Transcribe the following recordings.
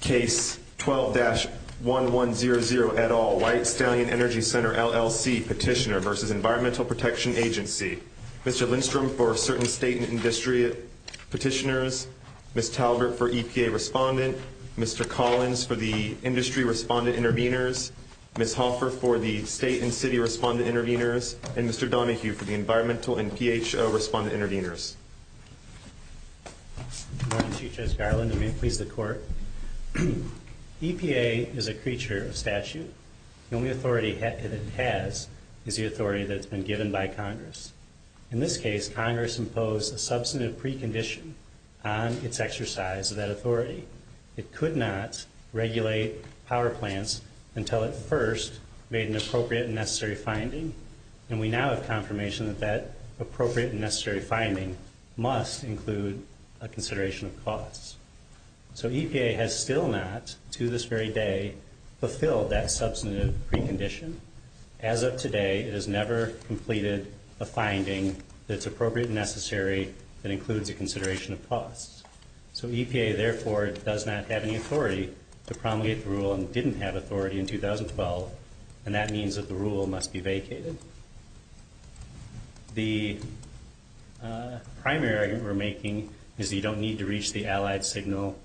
Case 12-1100 et al. White Stallion Energy Center LLC Petitioner v. Environmental Protection Agency Mr. Lindstrom for Certain State and Industry Petitioners Ms. Talbert for EPA Respondent Mr. Collins for the Industry Respondent Intervenors Ms. Hoffer for the State and City Respondent Intervenors and Mr. Donahue for the Environmental and PHO Respondent Intervenors EPA is a creature of statute. The only authority it has is the authority that has been given by Congress. In this case, Congress imposed a substantive precondition on its exercise of that authority. It could not regulate power plants until it first made an appropriate and necessary finding. And we now have confirmation that that appropriate and necessary finding must include a consideration of costs. So EPA has still not, to this very day, fulfilled that substantive precondition. As of today, it has never completed a finding that's appropriate and necessary that includes a consideration of costs. So EPA, therefore, does not have any authority to promulgate the rule and didn't have authority in 2012. And that means that the rule must be vacated. The primary argument we're making is that you don't need to reach the allied signal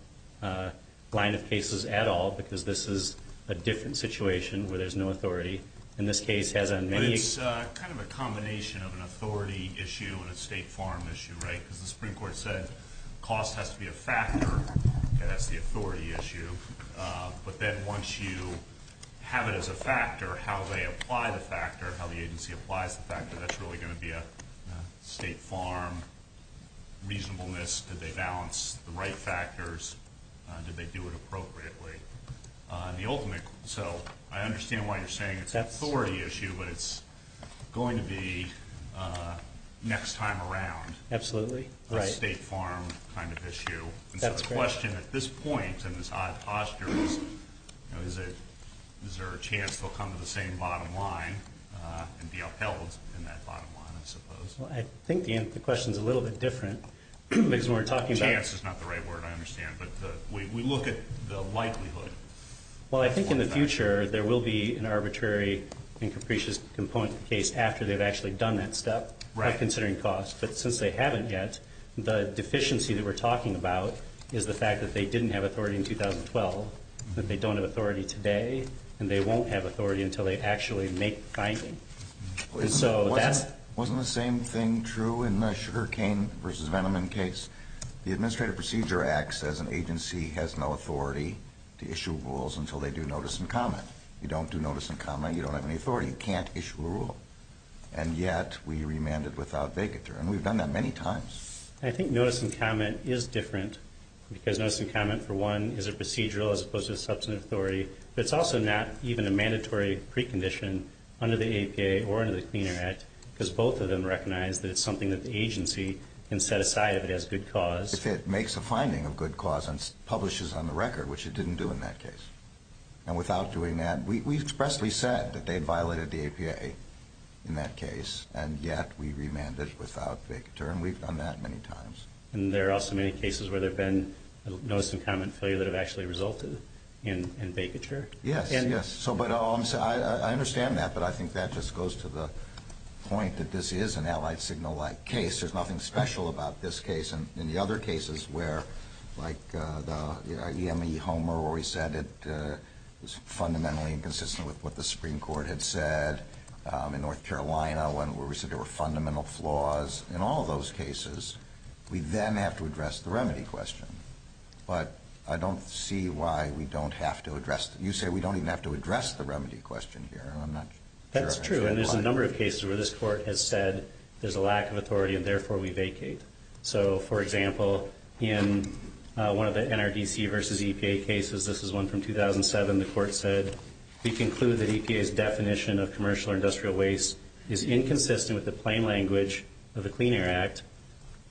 line of cases at all because this is a different situation where there's no authority. In this case, it has on many... But it's kind of a combination of an authority issue and a State Farm issue, right? Because the Supreme Court said cost has to be a factor, and that's the authority issue. But then once you have it as a factor, how they apply the factor, how the agency applies the factor, that's really going to be a State Farm reasonableness. Did they balance the right factors? Did they do it appropriately? So I understand why you're saying it's an authority issue, but it's going to be next time around a State Farm kind of issue. So the question at this point in this odd posture is, you know, is there a chance they'll come to the same bottom line and be upheld in that bottom line, I suppose. Well, I think the question's a little bit different because we're talking about... Chance is not the right word, I understand. But we look at the likelihood. Well, I think in the future there will be an arbitrary and capricious component of the case after they've actually done that step by considering cost. But since they haven't yet, the deficiency that we're talking about is the fact that they didn't have authority in 2012, that they don't have authority today, and they won't have authority until they actually make the finding. So that's... Wasn't the same thing true in the Sugarcane v. Veneman case? The Administrative Procedure Act says an agency has no authority to issue rules until they do notice and comment. You don't do notice and comment, you don't have any authority, you can't issue a rule. And yet we remanded without vacatur, and we've done that many times. I think notice and comment is different because notice and comment, for one, is a procedural as opposed to a substantive authority, but it's also not even a mandatory precondition under the APA or under the Clean Air Act because both of them recognize that it's something that the agency can set aside if it has good cause. If it makes a finding of good cause and publishes on the record, which it didn't do in that case. And without doing that, we expressly said that they violated the APA in that case, and yet we remanded without vacatur, and we've done that many times. And there are also many cases where there have been notice and comment failure that have actually resulted in vacatur? Yes, yes. But I understand that, but I think that just goes to the point that this is an Allied Signal-like case. There's nothing special about this case. In the other cases where, like the EME Homer where he said it was fundamentally inconsistent with what the Supreme Court had said, in North Carolina where we said there were fundamental flaws, in all those cases, we then have to address the remedy question. But I don't see why we don't have to address it. You say we don't even have to address the remedy question here, and I'm not sure I understand why. That's true, and there's a number of cases where this Court has said there's a lack of authority and therefore we vacate. So, for example, in one of the NRDC versus EPA cases, this is one from 2007, the Court said, we conclude that EPA's definition of commercial or industrial waste is inconsistent with the plain language of the Clean Air Act,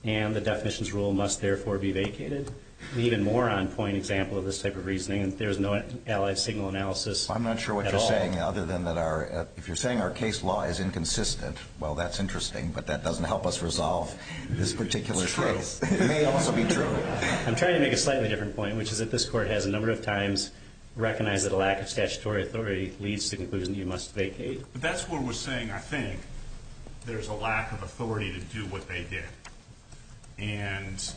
and the definition's rule must therefore be vacated. An even more on-point example of this type of reasoning, there's no Allied Signal analysis at all. I'm not sure what you're saying, other than that if you're saying our case law is inconsistent, well, that's interesting, but that doesn't help us resolve this particular case. It's true. It may also be true. I'm trying to make a slightly different point, which is that this Court has, a number of times, recognized that a lack of statutory authority leads to the conclusion that you must vacate. But that's where we're saying, I think, there's a lack of authority to do what they did. And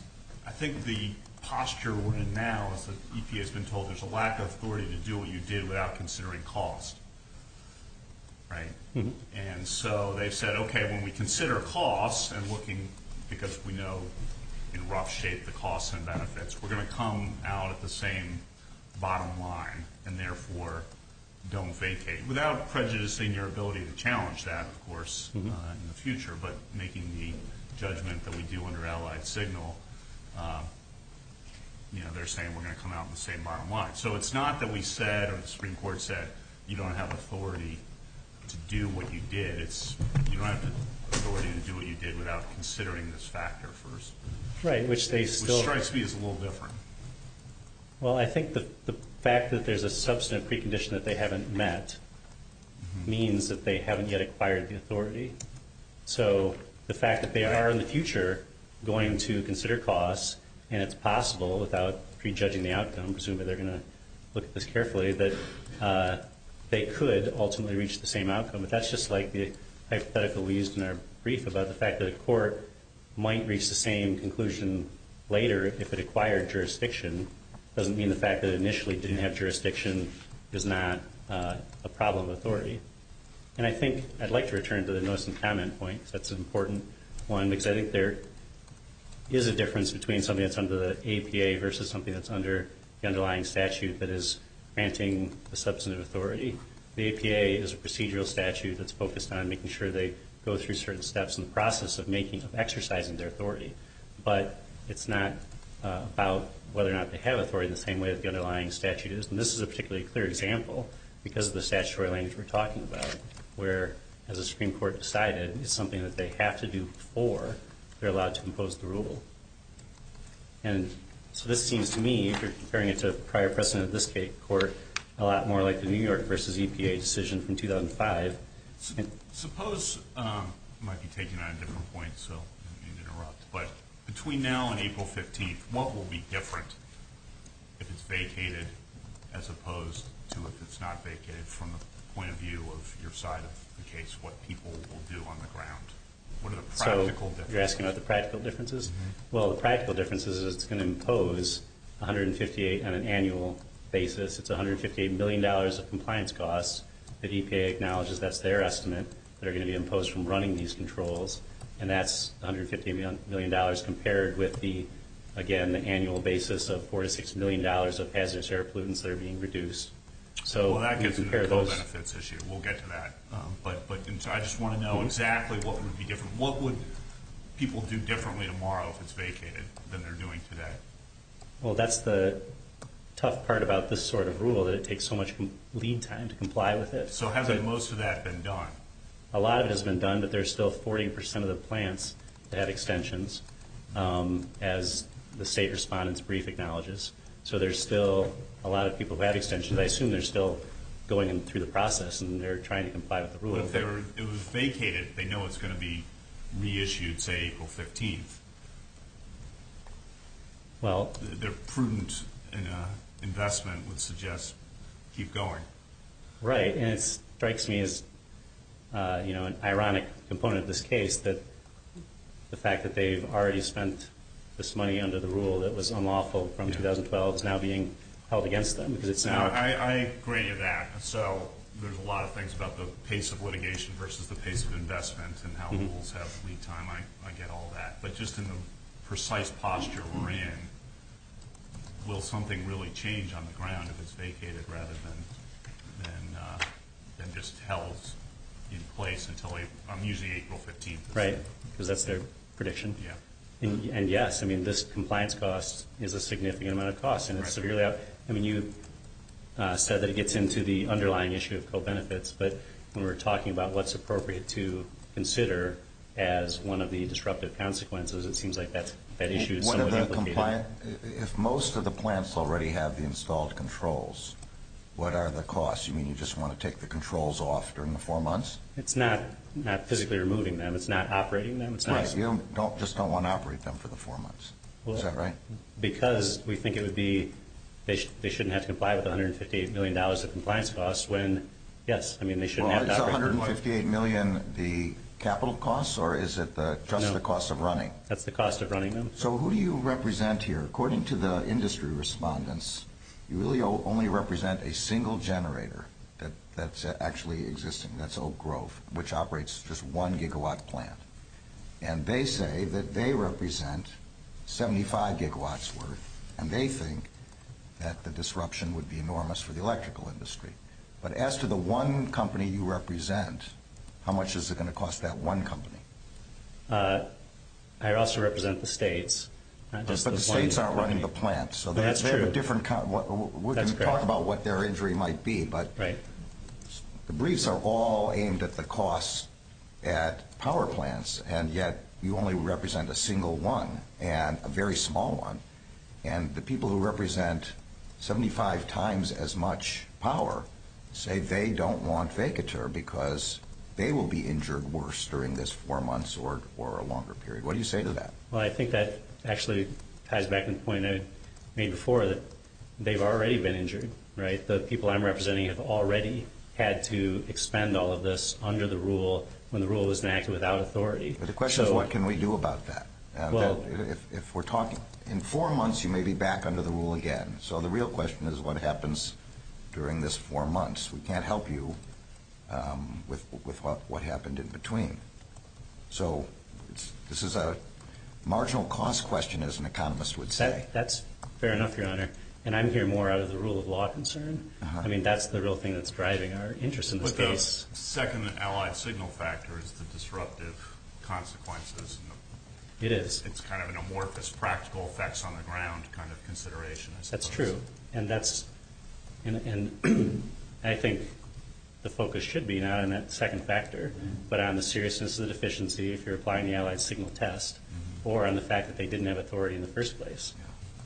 I think the posture we're in now is that EPA's been told there's a lack of authority to do what you did without considering cost, right? And so they've said, okay, when we consider cost and looking, because we know in rough shape the costs and benefits, we're going to come out at the same bottom line, and therefore don't vacate. Without prejudicing your ability to challenge that, of course, in the future, but making the judgment that we do under Allied Signal, you know, they're saying we're going to come out in the same bottom line. So it's not that we said or the Supreme Court said you don't have authority to do what you did. It's you don't have the authority to do what you did without considering this factor first. Right, which they still do. Which strikes me as a little different. Well, I think the fact that there's a substantive precondition that they haven't met means that they haven't yet acquired the authority. So the fact that they are in the future going to consider cost, and it's possible without prejudging the outcome, presumably they're going to look at this carefully, that they could ultimately reach the same outcome. But that's just like the hypothetical we used in our brief about the fact that a court might reach the same conclusion later if it acquired jurisdiction. It doesn't mean the fact that it initially didn't have jurisdiction is not a problem authority. And I think I'd like to return to the notes and comment point, because that's an important one, because I think there is a difference between something that's under the APA versus something that's under the underlying statute that is granting the substantive authority. The APA is a procedural statute that's focused on making sure they go through certain steps in the process of exercising their authority. But it's not about whether or not they have authority the same way that the underlying statute is. And this is a particularly clear example, because of the statutory language we're talking about, where, as the Supreme Court decided, it's something that they have to do before they're allowed to impose the rule. And so this seems to me, comparing it to prior precedent of this court, a lot more like the New York versus EPA decision from 2005. Suppose, I might be taking on a different point, so I didn't mean to interrupt, but between now and April 15th, what will be different if it's vacated, as opposed to if it's not vacated from the point of view of your side of the case, what people will do on the ground? What are the practical differences? So you're asking about the practical differences? Well, the practical difference is it's going to impose $158 million on an annual basis. It's $158 million of compliance costs. The EPA acknowledges that's their estimate. They're going to be imposed from running these controls. And that's $158 million compared with the, again, the annual basis of $4 to $6 million of hazardous air pollutants that are being reduced. Well, that gets into the co-benefits issue. We'll get to that. But I just want to know exactly what would be different. What would people do differently tomorrow if it's vacated than they're doing today? Well, that's the tough part about this sort of rule, that it takes so much lead time to comply with it. So hasn't most of that been done? A lot of it has been done, but there's still 40% of the plants that have extensions, as the state respondent's brief acknowledges. So there's still a lot of people who have extensions. I assume they're still going through the process and they're trying to comply with the rule. But if it was vacated, they know it's going to be reissued, say, April 15th. Their prudent investment would suggest keep going. Right. And it strikes me as an ironic component of this case that the fact that they've already spent this money under the rule that was unlawful from 2012 is now being held against them. I agree with that. So there's a lot of things about the pace of litigation versus the pace of investment and how rules have lead time. I get all that. But just in the precise posture we're in, will something really change on the ground if it's vacated rather than just held in place until usually April 15th? Right. Because that's their prediction? Yeah. And, yes, I mean, this compliance cost is a significant amount of cost, and it's severely out. I mean, you said that it gets into the underlying issue of co-benefits. But when we're talking about what's appropriate to consider as one of the disruptive consequences, it seems like that issue is somewhat implicated. If most of the plants already have the installed controls, what are the costs? You mean you just want to take the controls off during the four months? It's not physically removing them. It's not operating them. Right. You just don't want to operate them for the four months. Is that right? Because we think it would be they shouldn't have to comply with $158 million of compliance costs when, yes, I mean, they shouldn't have to operate them. Well, is $158 million the capital costs or is it just the cost of running? That's the cost of running them. So who do you represent here? According to the industry respondents, you really only represent a single generator that's actually existing. That's Oak Grove, which operates just one gigawatt plant. And they say that they represent 75 gigawatts worth, and they think that the disruption would be enormous for the electrical industry. But as to the one company you represent, how much is it going to cost that one company? I also represent the states. But the states aren't running the plants. That's true. We're going to talk about what their injury might be. Right. But the briefs are all aimed at the costs at power plants, and yet you only represent a single one and a very small one. And the people who represent 75 times as much power say they don't want vacatur because they will be injured worse during this four months or a longer period. What do you say to that? Well, I think that actually ties back to the point I made before, that they've already been injured. The people I'm representing have already had to expend all of this under the rule when the rule was enacted without authority. But the question is, what can we do about that? If we're talking in four months, you may be back under the rule again. So the real question is, what happens during this four months? We can't help you with what happened in between. So this is a marginal cost question, as an economist would say. That's fair enough, Your Honor. And I'm here more out of the rule of law concern. I mean, that's the real thing that's driving our interest in this case. But the second allied signal factor is the disruptive consequences. It is. It's kind of an amorphous practical effects on the ground kind of consideration, I suppose. That's true. And I think the focus should be not on that second factor, but on the seriousness of the deficiency if you're applying the allied signal test, or on the fact that they didn't have authority in the first place.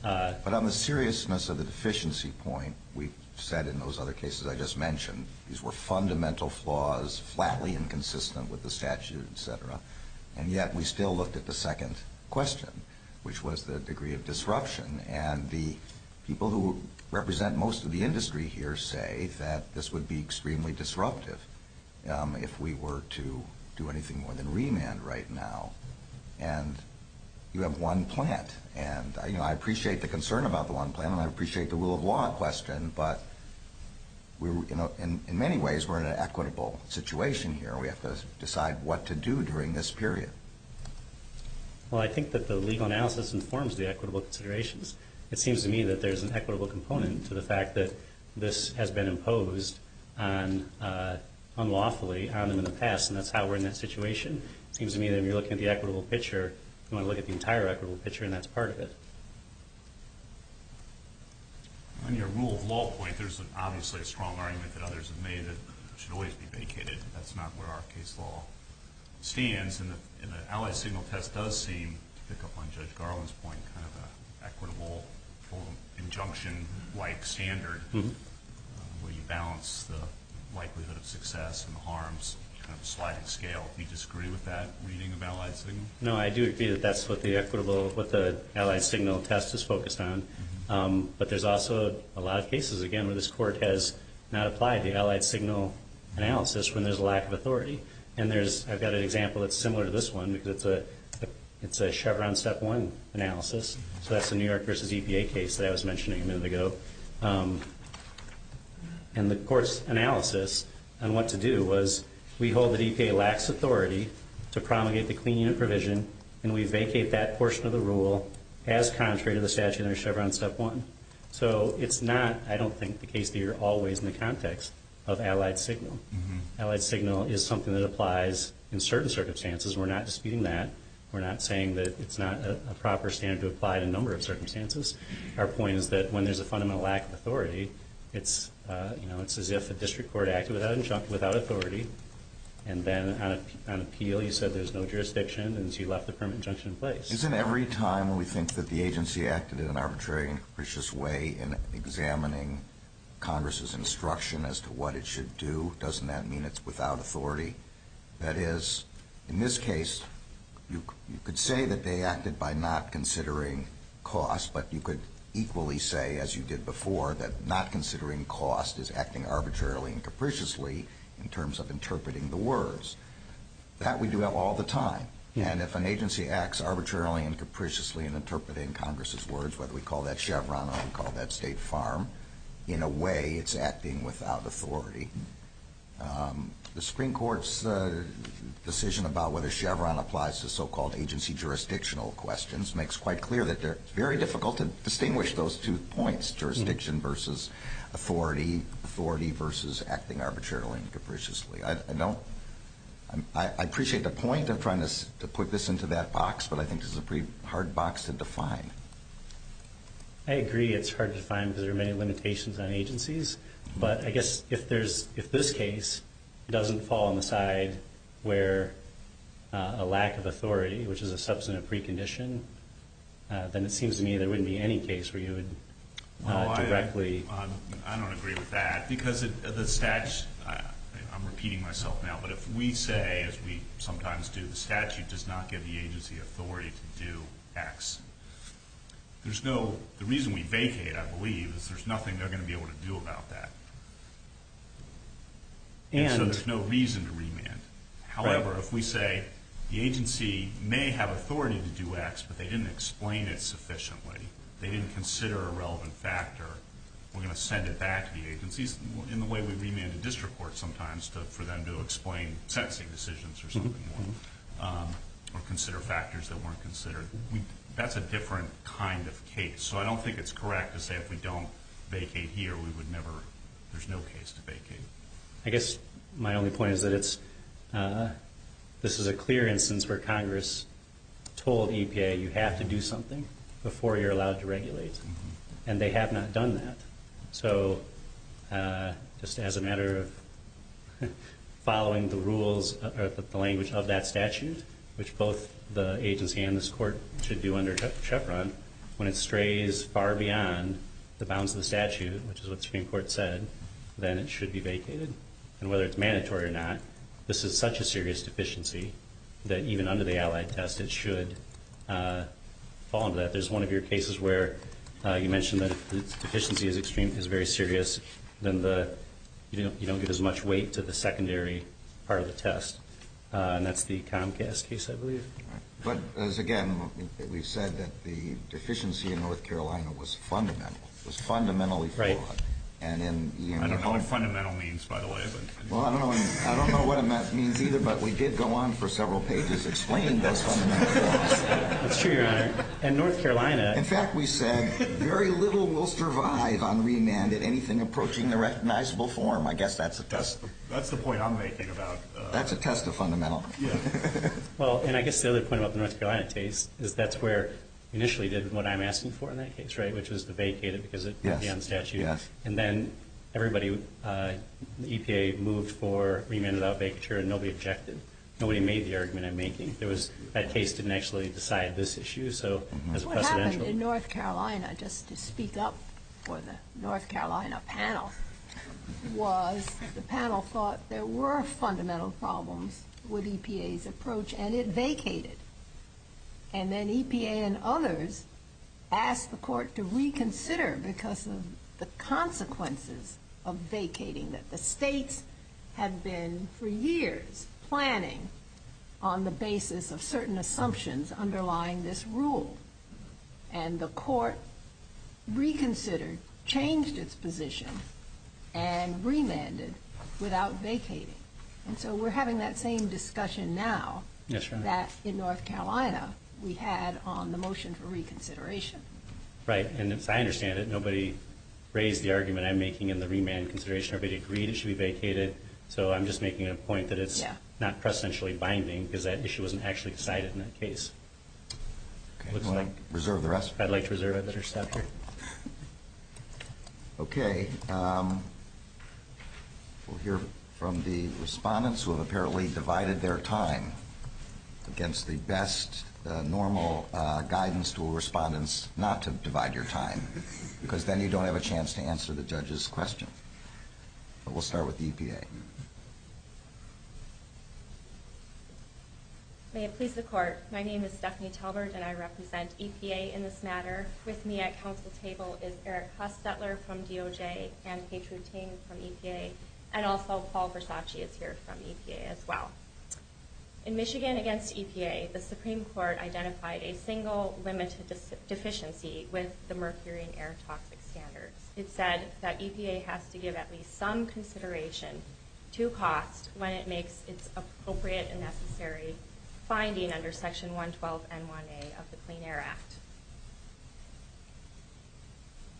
But on the seriousness of the deficiency point, we've said in those other cases I just mentioned, these were fundamental flaws, flatly inconsistent with the statute, et cetera. And yet we still looked at the second question, which was the degree of disruption. And the people who represent most of the industry here say that this would be extremely disruptive if we were to do anything more than remand right now. And you have one plant. And I appreciate the concern about the one plant, and I appreciate the rule of law question, but in many ways we're in an equitable situation here. We have to decide what to do during this period. Well, I think that the legal analysis informs the equitable considerations. It seems to me that there's an equitable component to the fact that this has been imposed unlawfully on them in the past, and that's how we're in that situation. It seems to me that if you're looking at the equitable picture, you want to look at the entire equitable picture, and that's part of it. On your rule of law point, there's obviously a strong argument that others have made that it should always be vacated. That's not where our case law stands. And the Allied Signal test does seem, to pick up on Judge Garland's point, kind of an equitable injunction-like standard where you balance the likelihood of success and harms, kind of slide and scale. Do you disagree with that reading of Allied Signal? No, I do agree that that's what the Allied Signal test is focused on. But there's also a lot of cases, again, where this Court has not applied the Allied Signal analysis when there's a lack of authority. And I've got an example that's similar to this one because it's a Chevron Step 1 analysis. So that's the New York v. EPA case that I was mentioning a minute ago. And the Court's analysis on what to do was, we hold that EPA lacks authority to promulgate the clean unit provision, and we vacate that portion of the rule as contrary to the statute under Chevron Step 1. So it's not, I don't think, the case that you're always in the context of Allied Signal. Allied Signal is something that applies in certain circumstances. We're not disputing that. We're not saying that it's not a proper standard to apply in a number of circumstances. Our point is that when there's a fundamental lack of authority, it's as if a district court acted without authority, and then on appeal you said there's no jurisdiction, and so you left the permit injunction in place. Isn't every time we think that the agency acted in an arbitrary and capricious way in examining Congress's instruction as to what it should do, doesn't that mean it's without authority? That is, in this case, you could say that they acted by not considering cost, but you could equally say, as you did before, that not considering cost is acting arbitrarily and capriciously in terms of interpreting the words. That we do all the time. And if an agency acts arbitrarily and capriciously in interpreting Congress's words, whether we call that Chevron or we call that State Farm, in a way it's acting without authority. The Supreme Court's decision about whether Chevron applies to so-called agency jurisdictional questions makes quite clear that it's very difficult to distinguish those two points, jurisdiction versus authority, authority versus acting arbitrarily and capriciously. I appreciate the point of trying to put this into that box, but I think this is a pretty hard box to define. I agree it's hard to define because there are many limitations on agencies, but I guess if this case doesn't fall on the side where a lack of authority, which is a substantive precondition, then it seems to me there wouldn't be any case where you would directly. I don't agree with that because the statute, I'm repeating myself now, but if we say, as we sometimes do, the statute does not give the agency authority to do X, the reason we vacate, I believe, is there's nothing they're going to be able to do about that. And so there's no reason to remand. However, if we say the agency may have authority to do X, but they didn't explain it sufficiently, they didn't consider a relevant factor, we're going to send it back to the agencies. In the way we remand a district court sometimes for them to explain sentencing decisions or something, or consider factors that weren't considered, that's a different kind of case. So I don't think it's correct to say if we don't vacate here, we would never, there's no case to vacate. I guess my only point is that this is a clear instance where Congress told EPA you have to do something before you're allowed to regulate, and they have not done that. So just as a matter of following the rules or the language of that statute, which both the agency and this court should do under CHEPRA, when it strays far beyond the bounds of the statute, which is what the Supreme Court said, then it should be vacated. And whether it's mandatory or not, this is such a serious deficiency that even under the Allied Test it should fall under that. There's one of your cases where you mentioned that if the deficiency is very serious, then you don't give as much weight to the secondary part of the test. And that's the Comcast case, I believe. But, as again, we've said that the deficiency in North Carolina was fundamental. It was fundamentally flawed. I don't know what fundamental means, by the way. Well, I don't know what it means either, but we did go on for several pages explaining those fundamental flaws. That's true, Your Honor. In North Carolina. In fact, we said very little will survive on remand in anything approaching the recognizable form. I guess that's a test. That's the point I'm making about. That's a test of fundamental. Well, and I guess the other point about the North Carolina case is that's where we initially did what I'm asking for in that case, which was to vacate it because it went beyond the statute. And then everybody, the EPA moved for remand without vacature, and nobody objected. Nobody made the argument I'm making. That case didn't actually decide this issue, so as a precedential. What happened in North Carolina, just to speak up for the North Carolina panel, was the panel thought there were fundamental problems with EPA's approach, and it vacated. And then EPA and others asked the Court to reconsider because of the consequences of vacating, that the states had been for years planning on the basis of certain assumptions underlying this rule. And the Court reconsidered, changed its position, and remanded without vacating. And so we're having that same discussion now that in North Carolina we had on the motion for reconsideration. Right. And as I understand it, nobody raised the argument I'm making in the remand consideration. Everybody agreed it should be vacated, so I'm just making a point that it's not precedentially binding because that issue wasn't actually decided in that case. Okay. Do you want to reserve the rest? If I'd like to reserve it, let her stop here. Okay. We'll hear from the respondents who have apparently divided their time against the best normal guidance to all respondents not to divide your time because then you don't have a chance to answer the judge's question. But we'll start with the EPA. May it please the Court. My name is Stephanie Talbert, and I represent EPA in this matter. With me at council table is Eric Hustetler from DOJ and Petra Ting from EPA, and also Paul Versace is here from EPA as well. In Michigan against EPA, the Supreme Court identified a single limited deficiency with the mercury and air toxic standards. It said that EPA has to give at least some consideration to cost when it makes its appropriate and necessary finding under Section 112 and 1A of the Clean Air Act.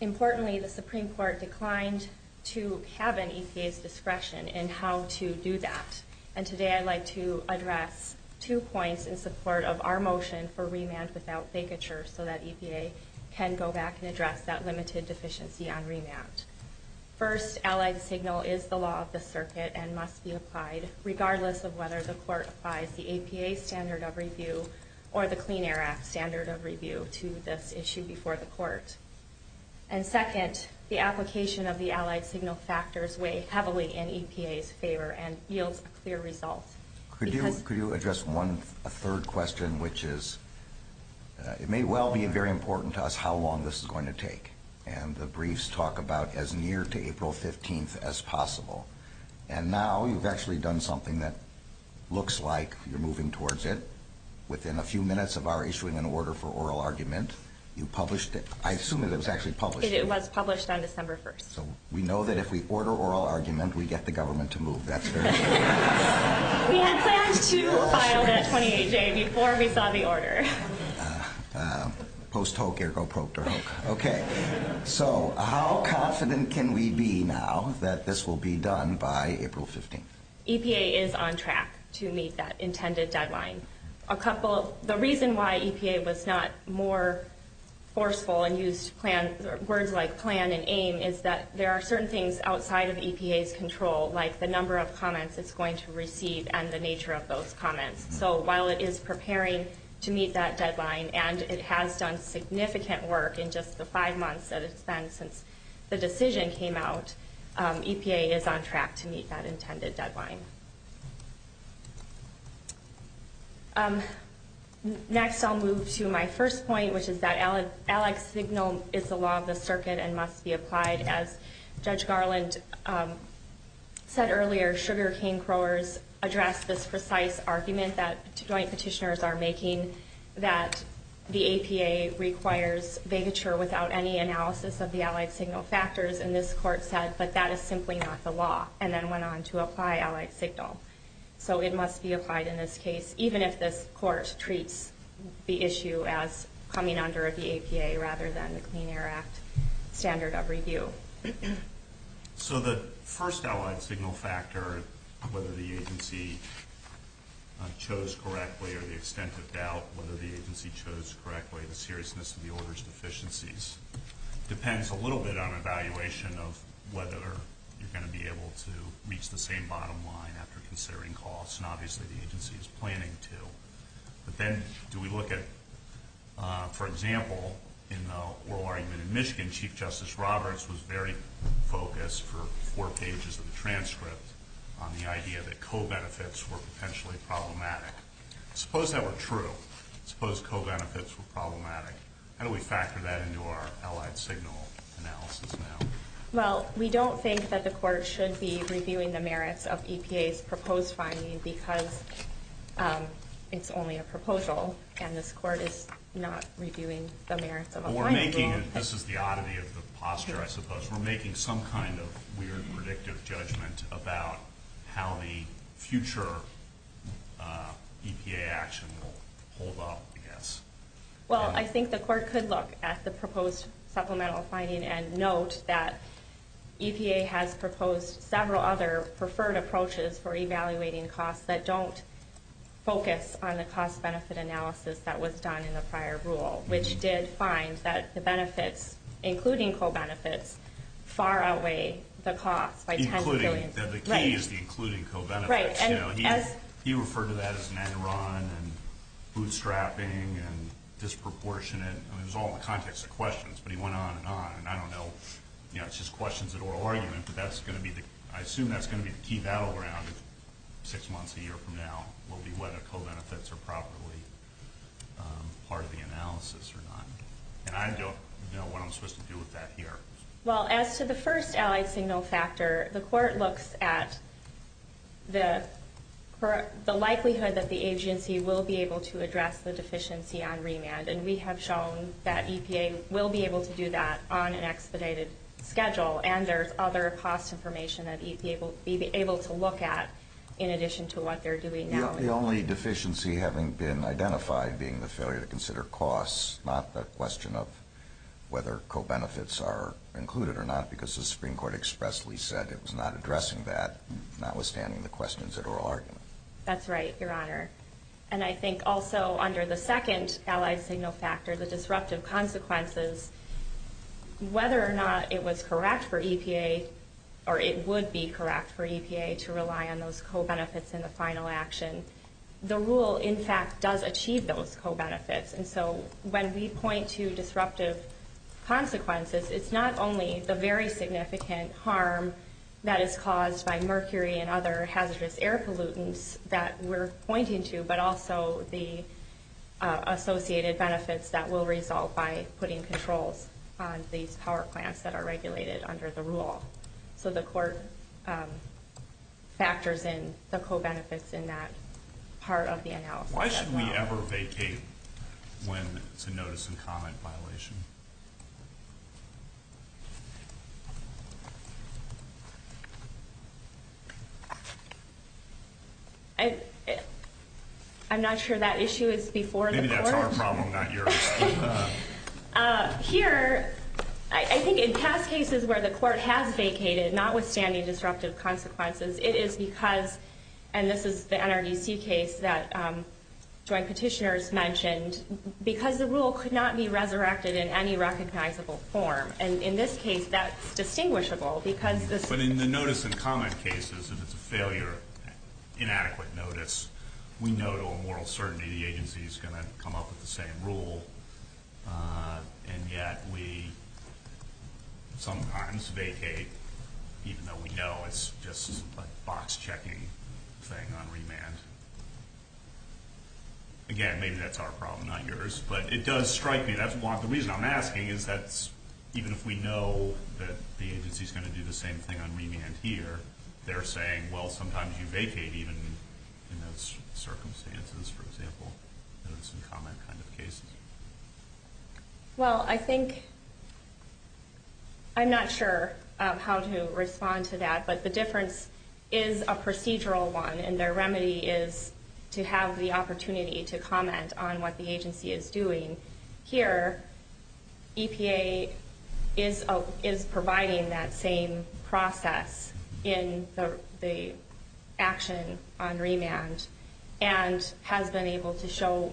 Importantly, the Supreme Court declined to have an EPA's discretion in how to do that, and today I'd like to address two points in support of our motion for remand without vacature so that EPA can go back and address that limited deficiency on remand. First, allied signal is the law of the circuit and must be applied, regardless of whether the court applies the EPA standard of review or the Clean Air Act standard of review to this issue before the court. And second, the application of the allied signal factors weigh heavily in EPA's favor and yields a clear result. Could you address a third question, which is it may well be very important to us how long this is going to take, and the briefs talk about as near to April 15th as possible. And now you've actually done something that looks like you're moving towards it. Within a few minutes of our issuing an order for oral argument, you published it. I assume that it was actually published. It was published on December 1st. So we know that if we order oral argument, we get the government to move. That's very good. We had planned to file that 28-J before we saw the order. Post hoke ergo procter hoke. Okay. So how confident can we be now that this will be done by April 15th? EPA is on track to meet that intended deadline. The reason why EPA was not more forceful and used words like plan and aim is that there are certain things outside of EPA's control, like the number of comments it's going to receive and the nature of those comments. So while it is preparing to meet that deadline and it has done significant work in just the five months that it's been since the decision came out, EPA is on track to meet that intended deadline. Next I'll move to my first point, which is that Alec's signal is the law of the circuit and must be applied. As Judge Garland said earlier, sugar cane growers address this precise argument that joint petitioners are making that the APA requires vacature without any analysis of the allied signal factors, and this court said, but that is simply not the law, and then went on to apply allied signal. So it must be applied in this case, even if this court treats the issue as coming under the APA rather than the Clean Air Act standard of review. So the first allied signal factor, whether the agency chose correctly or the extent of doubt whether the agency chose correctly, the seriousness of the orders deficiencies, depends a little bit on evaluation of whether you're going to be able to reach the same bottom line after considering costs, and obviously the agency is planning to. But then do we look at, for example, in the oral argument in Michigan, Chief Justice Roberts was very focused for four pages of the transcript on the idea that co-benefits were potentially problematic. Suppose that were true. Suppose co-benefits were problematic. How do we factor that into our allied signal analysis now? Well, we don't think that the court should be reviewing the merits of EPA's proposed finding because it's only a proposal, and this court is not reviewing the merits of a line rule. This is the oddity of the posture, I suppose. We're making some kind of weird, predictive judgment about how the future EPA action will hold up, I guess. Well, I think the court could look at the proposed supplemental finding and note that EPA has proposed several other preferred approaches for evaluating costs that don't focus on the cost-benefit analysis that was done in the prior rule, which did find that the benefits, including co-benefits, far outweigh the costs by tens of billions. The key is the including co-benefits. He referred to that as an end run and bootstrapping and disproportionate. It was all in the context of questions, but he went on and on. I don't know. It's just questions at oral argument, but I assume that's going to be the key battleground. Six months, a year from now, will be whether co-benefits are properly part of the analysis or not. And I don't know what I'm supposed to do with that here. Well, as to the first allied signal factor, the court looks at the likelihood that the agency will be able to address the deficiency on remand, and we have shown that EPA will be able to do that on an expedited schedule, and there's other cost information that EPA will be able to look at in addition to what they're doing now. The only deficiency having been identified being the failure to consider costs, not the question of whether co-benefits are included or not, because the Supreme Court expressly said it was not addressing that, notwithstanding the questions at oral argument. That's right, Your Honor. And I think also under the second allied signal factor, the disruptive consequences, whether or not it was correct for EPA, or it would be correct for EPA, to rely on those co-benefits in the final action, the rule, in fact, does achieve those co-benefits. And so when we point to disruptive consequences, it's not only the very significant harm that is caused by mercury and other hazardous air pollutants that we're pointing to, but also the associated benefits that will result by putting controls on these power plants that are regulated under the rule. So the court factors in the co-benefits in that part of the analysis as well. Why should we ever vacate when it's a notice and comment violation? I'm not sure that issue is before the court. Maybe that's our problem, not yours. Here, I think in past cases where the court has vacated, notwithstanding disruptive consequences, it is because, and this is the NRDC case that joint petitioners mentioned, because the rule could not be resurrected in any recognizable form. And in this case, that's distinguishable because this... But in the notice and comment cases, if it's a failure, inadequate notice, we know to a moral certainty the agency is going to come up with the same rule, and yet we sometimes vacate even though we know it's just a box-checking thing on remand. Again, maybe that's our problem, not yours, but it does strike me. The reason I'm asking is that even if we know that the agency is going to do the same thing on remand here, they're saying, well, sometimes you vacate even in those circumstances, for example, notice and comment kind of cases. Well, I think... I'm not sure how to respond to that, but the difference is a procedural one, and their remedy is to have the opportunity to comment on what the agency is doing. Here, EPA is providing that same process in the action on remand and has been able to show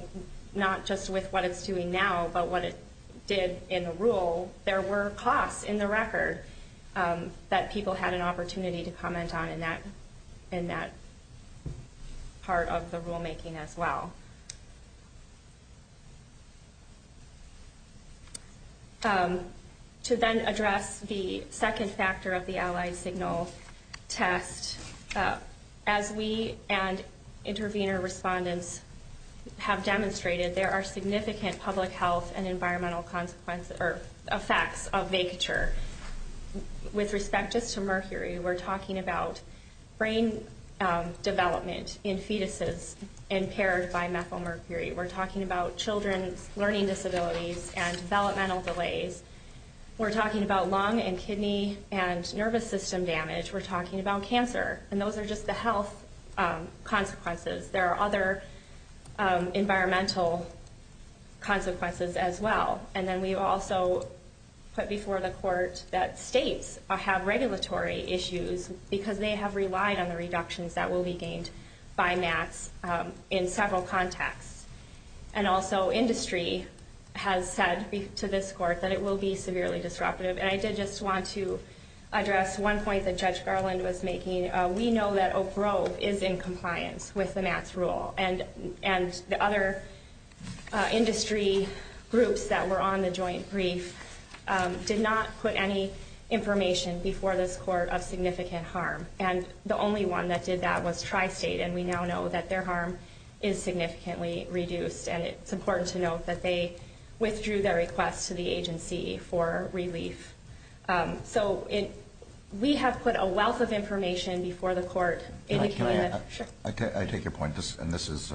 not just with what it's doing now, but what it did in the rule. So there were costs in the record that people had an opportunity to comment on in that part of the rulemaking as well. To then address the second factor of the Allied Signal test, as we and intervener respondents have demonstrated, there are significant public health and environmental effects of vacature. With respect just to mercury, we're talking about brain development in fetuses impaired by methylmercury. We're talking about children's learning disabilities and developmental delays. We're talking about lung and kidney and nervous system damage. We're talking about cancer, and those are just the health consequences. There are other environmental consequences as well. And then we've also put before the court that states have regulatory issues because they have relied on the reductions that will be gained by MATS in several contexts. And also, industry has said to this court that it will be severely disruptive. And I did just want to address one point that Judge Garland was making. We know that Oak Grove is in compliance with the MATS rule, and the other industry groups that were on the joint brief did not put any information before this court of significant harm. And the only one that did that was Tri-State, and we now know that their harm is significantly reduced. And it's important to note that they withdrew their request to the agency for relief. So we have put a wealth of information before the court. Can I add? Sure. I take your point, and this is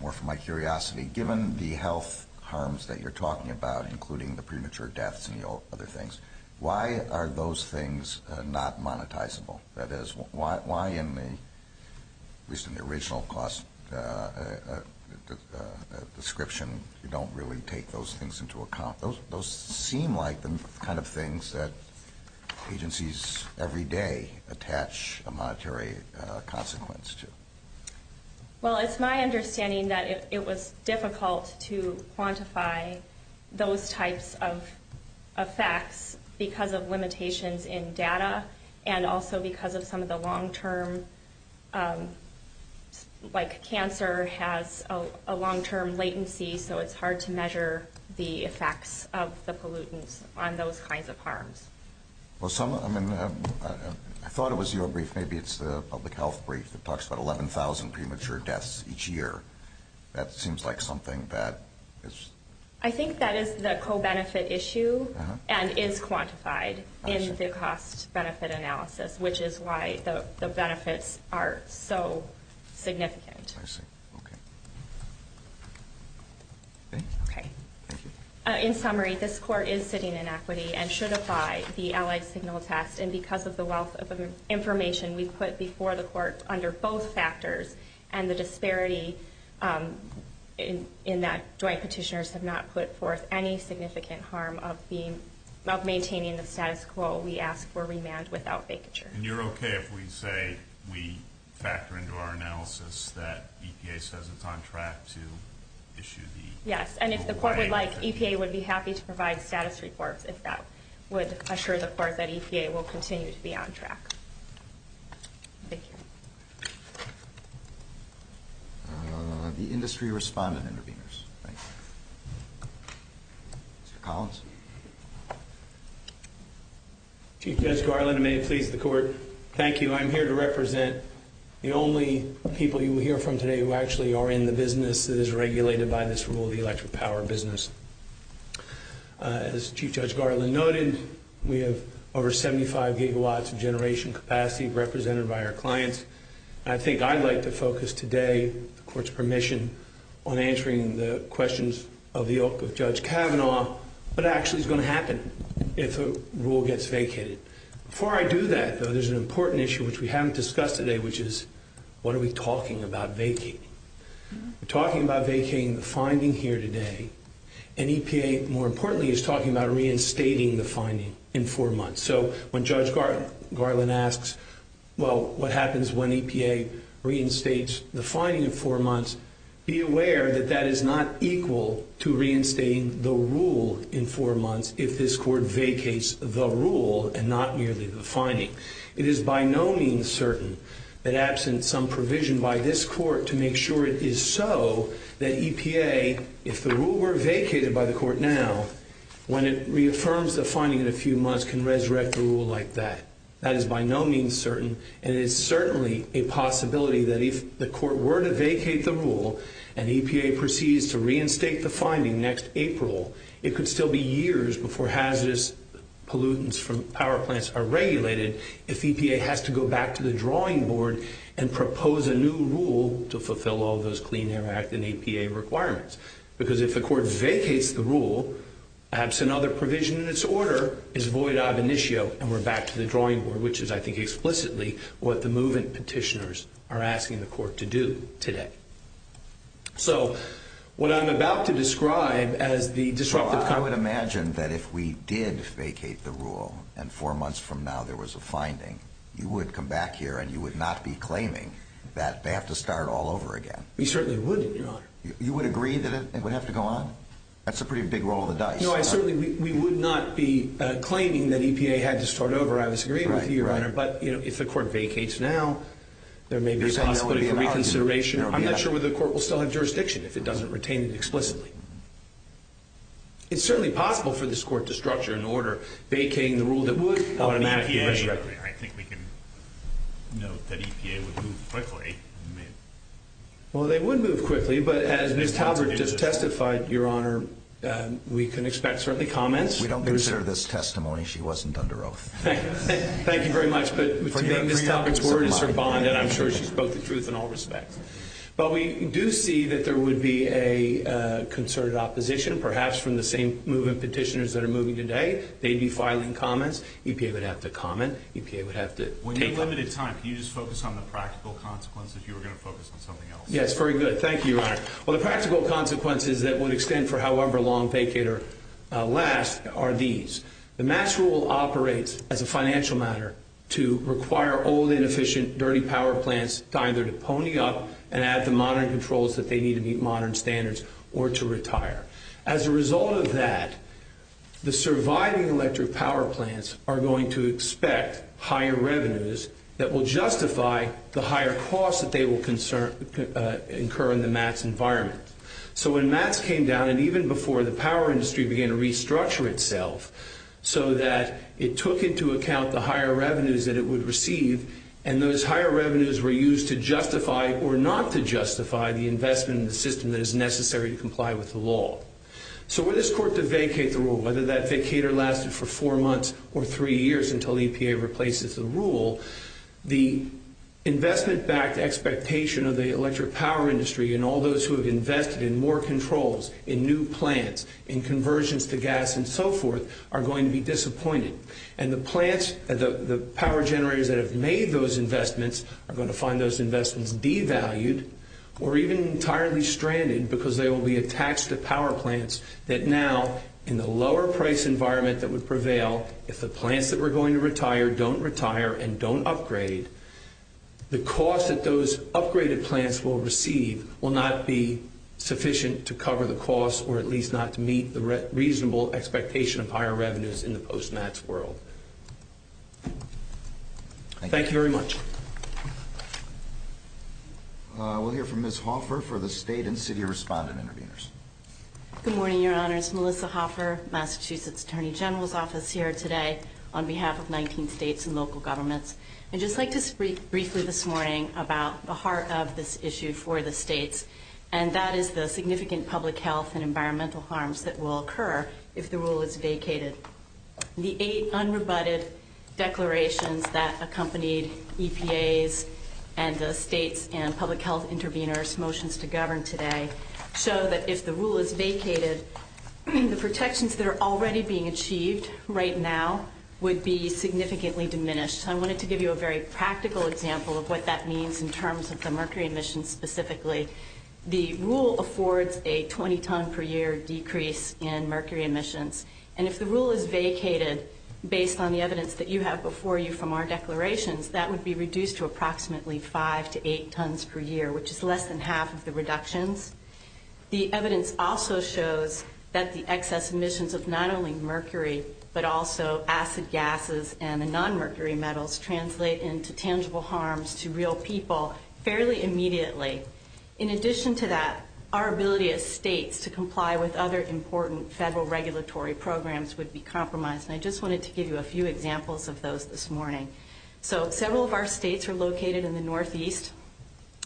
more for my curiosity. Given the health harms that you're talking about, including the premature deaths and the other things, why are those things not monetizable? That is, why in the original cost description you don't really take those things into account? Those seem like the kind of things that agencies every day attach a monetary consequence to. Well, it's my understanding that it was difficult to quantify those types of effects because of limitations in data and also because of some of the long-term, like cancer has a long-term latency, so it's hard to measure the effects of the pollutants on those kinds of harms. I thought it was your brief. Maybe it's the public health brief that talks about 11,000 premature deaths each year. That seems like something that is... I think that is the co-benefit issue and is quantified in the cost-benefit analysis, which is why the benefits are so significant. I see. Okay. Okay. Thank you. In summary, this Court is sitting in equity and should apply the Allied Signal Test, and because of the wealth of information we put before the Court under both factors and the disparity in that joint petitioners have not put forth any significant harm of maintaining the status quo, we ask for remand without vacature. And you're okay if we say we factor into our analysis that EPA says it's on track to issue the... Yes, and if the Court would like, EPA would be happy to provide status reports if that would assure the Court that EPA will continue to be on track. Thank you. The industry respondent interveners. Thank you. Mr. Collins. Chief Judge Garland, and may it please the Court, thank you. I'm here to represent the only people you will hear from today who actually are in the business that is regulated by this rule, the electric power business. As Chief Judge Garland noted, we have over 75 gigawatts of generation capacity represented by our clients. I think I'd like to focus today, with the Court's permission, on answering the questions of Judge Kavanaugh, what actually is going to happen if a rule gets vacated? Before I do that, though, there's an important issue which we haven't discussed today, which is what are we talking about vacating? We're talking about vacating the finding here today, and EPA, more importantly, is talking about reinstating the finding in four months. So when Judge Garland asks, well, what happens when EPA reinstates the finding in four months, be aware that that is not equal to reinstating the rule in four months if this Court vacates the rule and not merely the finding. It is by no means certain that absent some provision by this Court to make sure it is so, that EPA, if the rule were vacated by the Court now, when it reaffirms the finding in a few months, can resurrect the rule like that. That is by no means certain, and it is certainly a possibility that if the Court were to vacate the rule, and EPA proceeds to reinstate the finding next April, it could still be years before hazardous pollutants from power plants are regulated if EPA has to go back to the drawing board and propose a new rule to fulfill all those Clean Air Act and EPA requirements. Because if the Court vacates the rule, perhaps another provision in its order is void ab initio, and we're back to the drawing board, which is, I think, So, what I'm about to describe as the disruptive... Well, I would imagine that if we did vacate the rule, and four months from now there was a finding, you would come back here and you would not be claiming that they have to start all over again. We certainly wouldn't, Your Honor. You would agree that it would have to go on? That's a pretty big roll of the dice. No, I certainly, we would not be claiming that EPA had to start over. I was agreeing with you, Your Honor. Right, right. But, you know, if the Court vacates now, there may be a possibility for reconsideration. I'm not sure whether the Court will still have jurisdiction if it doesn't retain it explicitly. It's certainly possible for this Court to structure an order vacating the rule that would automatically resurrect it. I think we can note that EPA would move quickly. Well, they would move quickly, but as Ms. Talbert just testified, Your Honor, we can expect, certainly, comments. We don't consider this testimony. She wasn't under oath. Thank you very much, but Ms. Talbert's word is her bond, and I'm sure she spoke the truth in all respects. But we do see that there would be a concerted opposition, perhaps from the same movement petitioners that are moving today. They'd be filing comments. EPA would have to comment. EPA would have to take them. When you have limited time, can you just focus on the practical consequences? You were going to focus on something else. Yes, very good. Thank you, Your Honor. Well, the practical consequences that would extend for however long vacate or last are these. The MATS rule operates as a financial matter to require old, inefficient, dirty power plants to either pony up and add the modern controls that they need to meet modern standards or to retire. As a result of that, the surviving electric power plants are going to expect higher revenues that will justify the higher costs that they will incur in the MATS environment. So when MATS came down, and even before the power industry began to restructure itself so that it took into account the higher revenues that it would receive, and those higher revenues were used to justify or not to justify the investment in the system that is necessary to comply with the law. So were this court to vacate the rule, whether that vacater lasted for four months or three years until EPA replaces the rule, the investment-backed expectation of the electric power industry and all those who have invested in more controls, in new plants, in conversions to gas and so forth are going to be disappointed. And the plants, the power generators that have made those investments are going to find those investments devalued or even entirely stranded because they will be attached to power plants that now, in the lower-price environment that would prevail, if the plants that were going to retire don't retire and don't upgrade, the cost that those upgraded plants will receive will not be sufficient to cover the cost or at least not to meet the reasonable expectation of higher revenues in the post-MATS world. Thank you very much. We'll hear from Ms. Hoffer for the State and City Respondent Interveners. Good morning, Your Honors. Melissa Hoffer, Massachusetts Attorney General's Office, here today on behalf of 19 states and local governments. I'd just like to speak briefly this morning about the heart of this issue for the states, and that is the significant public health and environmental harms that will occur if the rule is vacated. The eight unrebutted declarations that accompanied EPA's and the state's and public health interveners' motions to govern today show that if the rule is vacated, the protections that are already being achieved right now would be significantly diminished. So I wanted to give you a very practical example of what that means in terms of the mercury emissions specifically. The rule affords a 20-ton per year decrease in mercury emissions, and if the rule is vacated based on the evidence that you have before you from our declarations, that would be reduced to approximately five to eight tons per year, which is less than half of the reductions. The evidence also shows that the excess emissions of not only mercury but also acid gases and the nonmercury metals translate into tangible harms to real people fairly immediately. In addition to that, our ability as states to comply with other important federal regulatory programs would be compromised, and I just wanted to give you a few examples of those this morning. So several of our states are located in the northeast,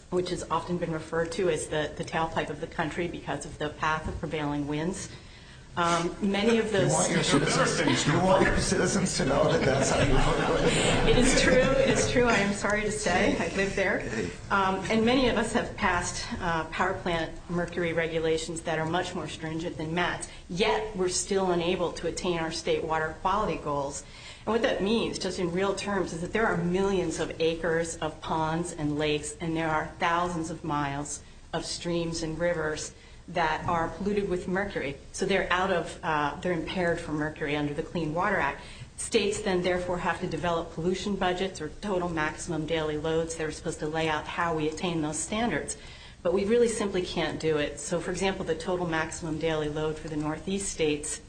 which has often been referred to as the tailpipe of the country because of the path of prevailing winds. You want your citizens to know that that's how you vote. It is true. It is true. I am sorry to say. I live there. And many of us have passed power plant mercury regulations that are much more stringent than Matt's, yet we're still unable to attain our state water quality goals. And what that means, just in real terms, is that there are millions of acres of ponds and lakes and there are thousands of miles of streams and rivers that are polluted with mercury. So they're impaired from mercury under the Clean Water Act. States then therefore have to develop pollution budgets or total maximum daily loads. They're supposed to lay out how we attain those standards. But we really simply can't do it. So, for example, the total maximum daily load for the northeast states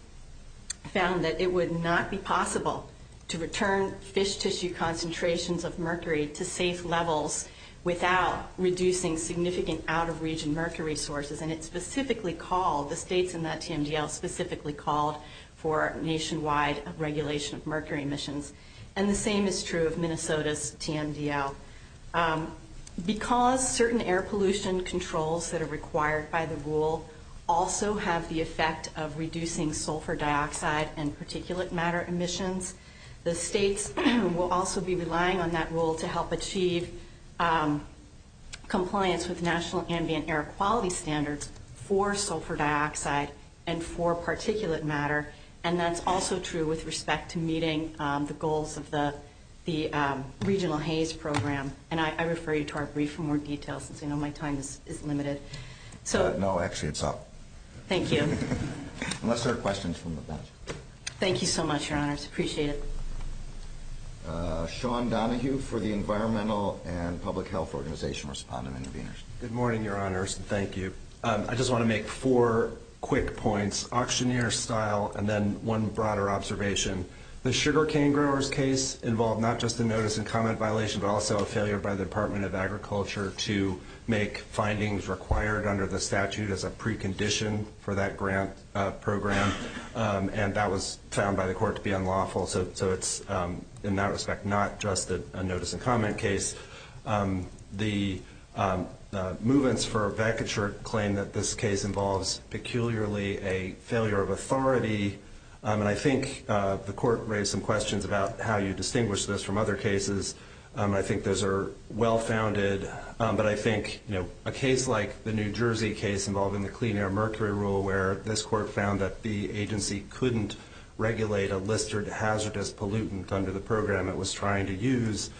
found that it would not be possible to return fish tissue concentrations of mercury to safe levels without reducing significant out-of-region mercury sources. And it specifically called, the states in that TMDL specifically called for nationwide regulation of mercury emissions. And the same is true of Minnesota's TMDL. Because certain air pollution controls that are required by the rule also have the effect of reducing sulfur dioxide and particulate matter emissions, the states will also be relying on that rule to help achieve compliance with national ambient air quality standards for sulfur dioxide and for particulate matter. And that's also true with respect to meeting the goals of the Regional Haze Program. And I refer you to our brief for more details since I know my time is limited. No, actually it's up. Thank you. Unless there are questions from the bench. Thank you so much, Your Honors. I appreciate it. Sean Donahue for the Environmental and Public Health Organization, respondent and intervener. Good morning, Your Honors. Thank you. I just want to make four quick points, auctioneer style, and then one broader observation. The sugar cane growers case involved not just a notice and comment violation but also a failure by the Department of Agriculture to make findings required under the statute as a precondition for that grant program. And that was found by the court to be unlawful. So it's, in that respect, not just a notice and comment case. The movements for vacature claim that this case involves peculiarly a failure of authority. And I think the court raised some questions about how you distinguish this from other cases. I think those are well-founded. But I think, you know, a case like the New Jersey case involving the Clean Air Mercury Rule, where this court found that the agency couldn't regulate a listed hazardous pollutant under the program it was trying to use,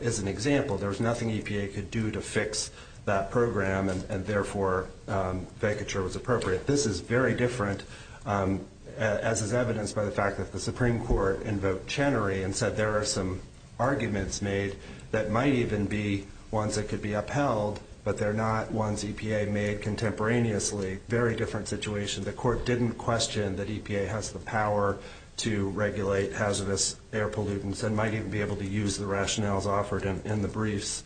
is an example. There was nothing EPA could do to fix that program, and therefore vacature was appropriate. This is very different, as is evidenced by the fact that the Supreme Court invoked Chenery and said there are some arguments made that might even be ones that could be upheld, but they're not ones EPA made contemporaneously. Very different situation. The court didn't question that EPA has the power to regulate hazardous air pollutants and might even be able to use the rationales offered in the briefs.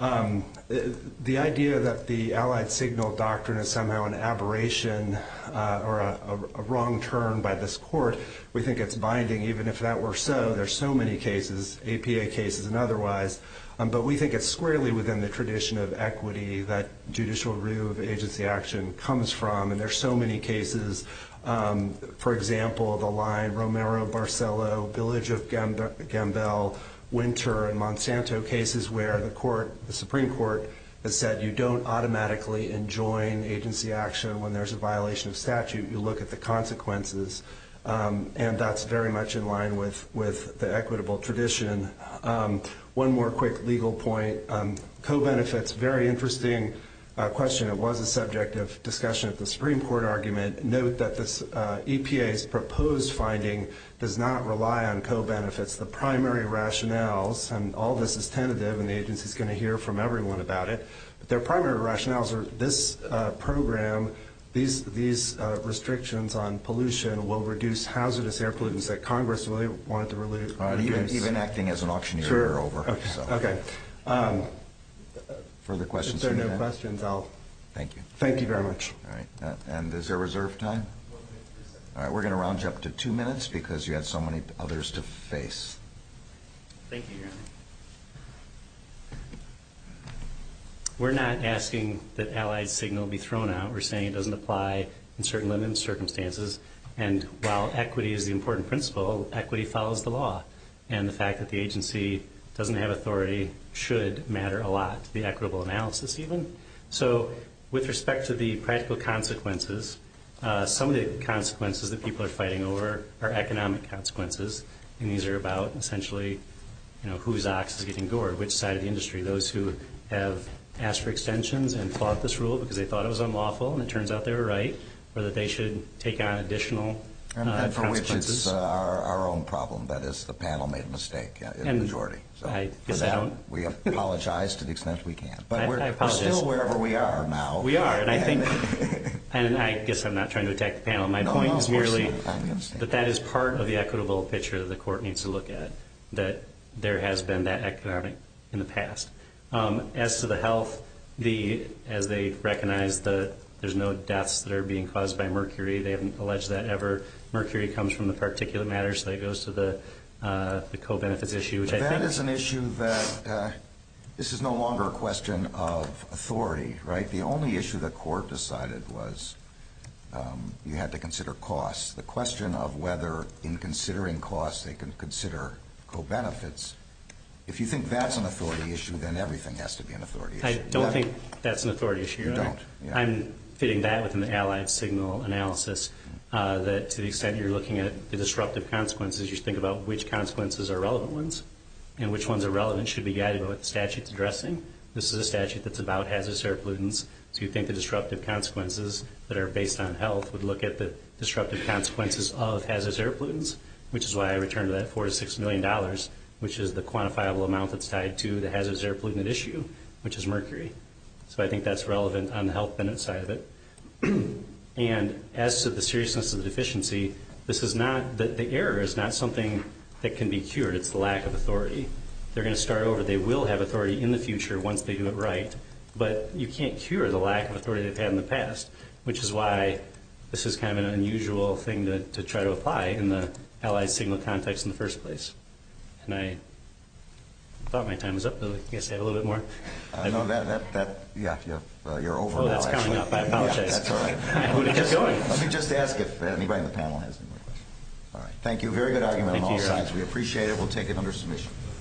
The idea that the Allied Signal Doctrine is somehow an aberration or a wrong turn by this court, we think it's binding even if that were so. There are so many cases, EPA cases and otherwise, but we think it's squarely within the tradition of equity that judicial review of agency action comes from. There are so many cases, for example, the line Romero-Barcello, Village of Gambell, Winter, and Monsanto cases where the Supreme Court has said you don't automatically enjoin agency action when there's a violation of statute. You look at the consequences, and that's very much in line with the equitable tradition. One more quick legal point. Co-benefits, very interesting question. It was a subject of discussion at the Supreme Court argument. Note that this EPA's proposed finding does not rely on co-benefits. The primary rationales, and all this is tentative, and the agency is going to hear from everyone about it, but their primary rationales are this program, these restrictions on pollution, will reduce hazardous air pollutants that Congress really wanted to reduce. Even acting as an auctioneer you're over. Okay. Further questions? If there are no questions, I'll. Thank you. Thank you very much. All right. And is there reserved time? All right. We're going to round you up to two minutes because you had so many others to face. Thank you, Your Honor. We're not asking that allied signal be thrown out. We're saying it doesn't apply in certain limited circumstances, and while equity is the important principle, equity follows the law, and the fact that the agency doesn't have authority should matter a lot to the equitable analysis even. So with respect to the practical consequences, some of the consequences that people are fighting over are economic consequences, and these are about essentially whose ox is getting gored, which side of the industry. Those who have asked for extensions and fought this rule because they thought it was unlawful and it turns out they were right or that they should take on additional consequences. And for which it's our own problem, that is the panel made a mistake in the majority. We apologize to the extent we can. But we're still wherever we are now. We are, and I guess I'm not trying to attack the panel. My point is merely that that is part of the equitable picture that the court needs to look at, that there has been that economic in the past. As to the health, as they recognize that there's no deaths that are being caused by mercury, they haven't alleged that ever. Mercury comes from the particulate matter, so it goes to the co-benefits issue. But that is an issue that this is no longer a question of authority, right? The only issue the court decided was you had to consider costs. The question of whether in considering costs they can consider co-benefits, if you think that's an authority issue, then everything has to be an authority issue. I don't think that's an authority issue. You don't? I'm fitting that within the allied signal analysis, that to the extent you're looking at the disruptive consequences, you should think about which consequences are relevant ones and which ones are relevant should be guided by what the statute's addressing. This is a statute that's about hazardous air pollutants, so you'd think the disruptive consequences that are based on health would look at the disruptive consequences of hazardous air pollutants, which is why I returned that $4 million to $6 million, which is the quantifiable amount that's tied to the hazardous air pollutant issue, which is mercury. So I think that's relevant on the health benefit side of it. And as to the seriousness of the deficiency, the error is not something that can be cured, it's the lack of authority. They're going to start over. They will have authority in the future once they do it right, but you can't cure the lack of authority they've had in the past, which is why this is kind of an unusual thing to try to apply in the allied signal context in the first place. And I thought my time was up, but I guess I have a little bit more. No, you're over now, actually. Oh, that's coming up. I apologize. That's all right. Let me just ask if anybody on the panel has any more questions. All right, thank you. Very good argument on all sides. We appreciate it. We'll take it under submission.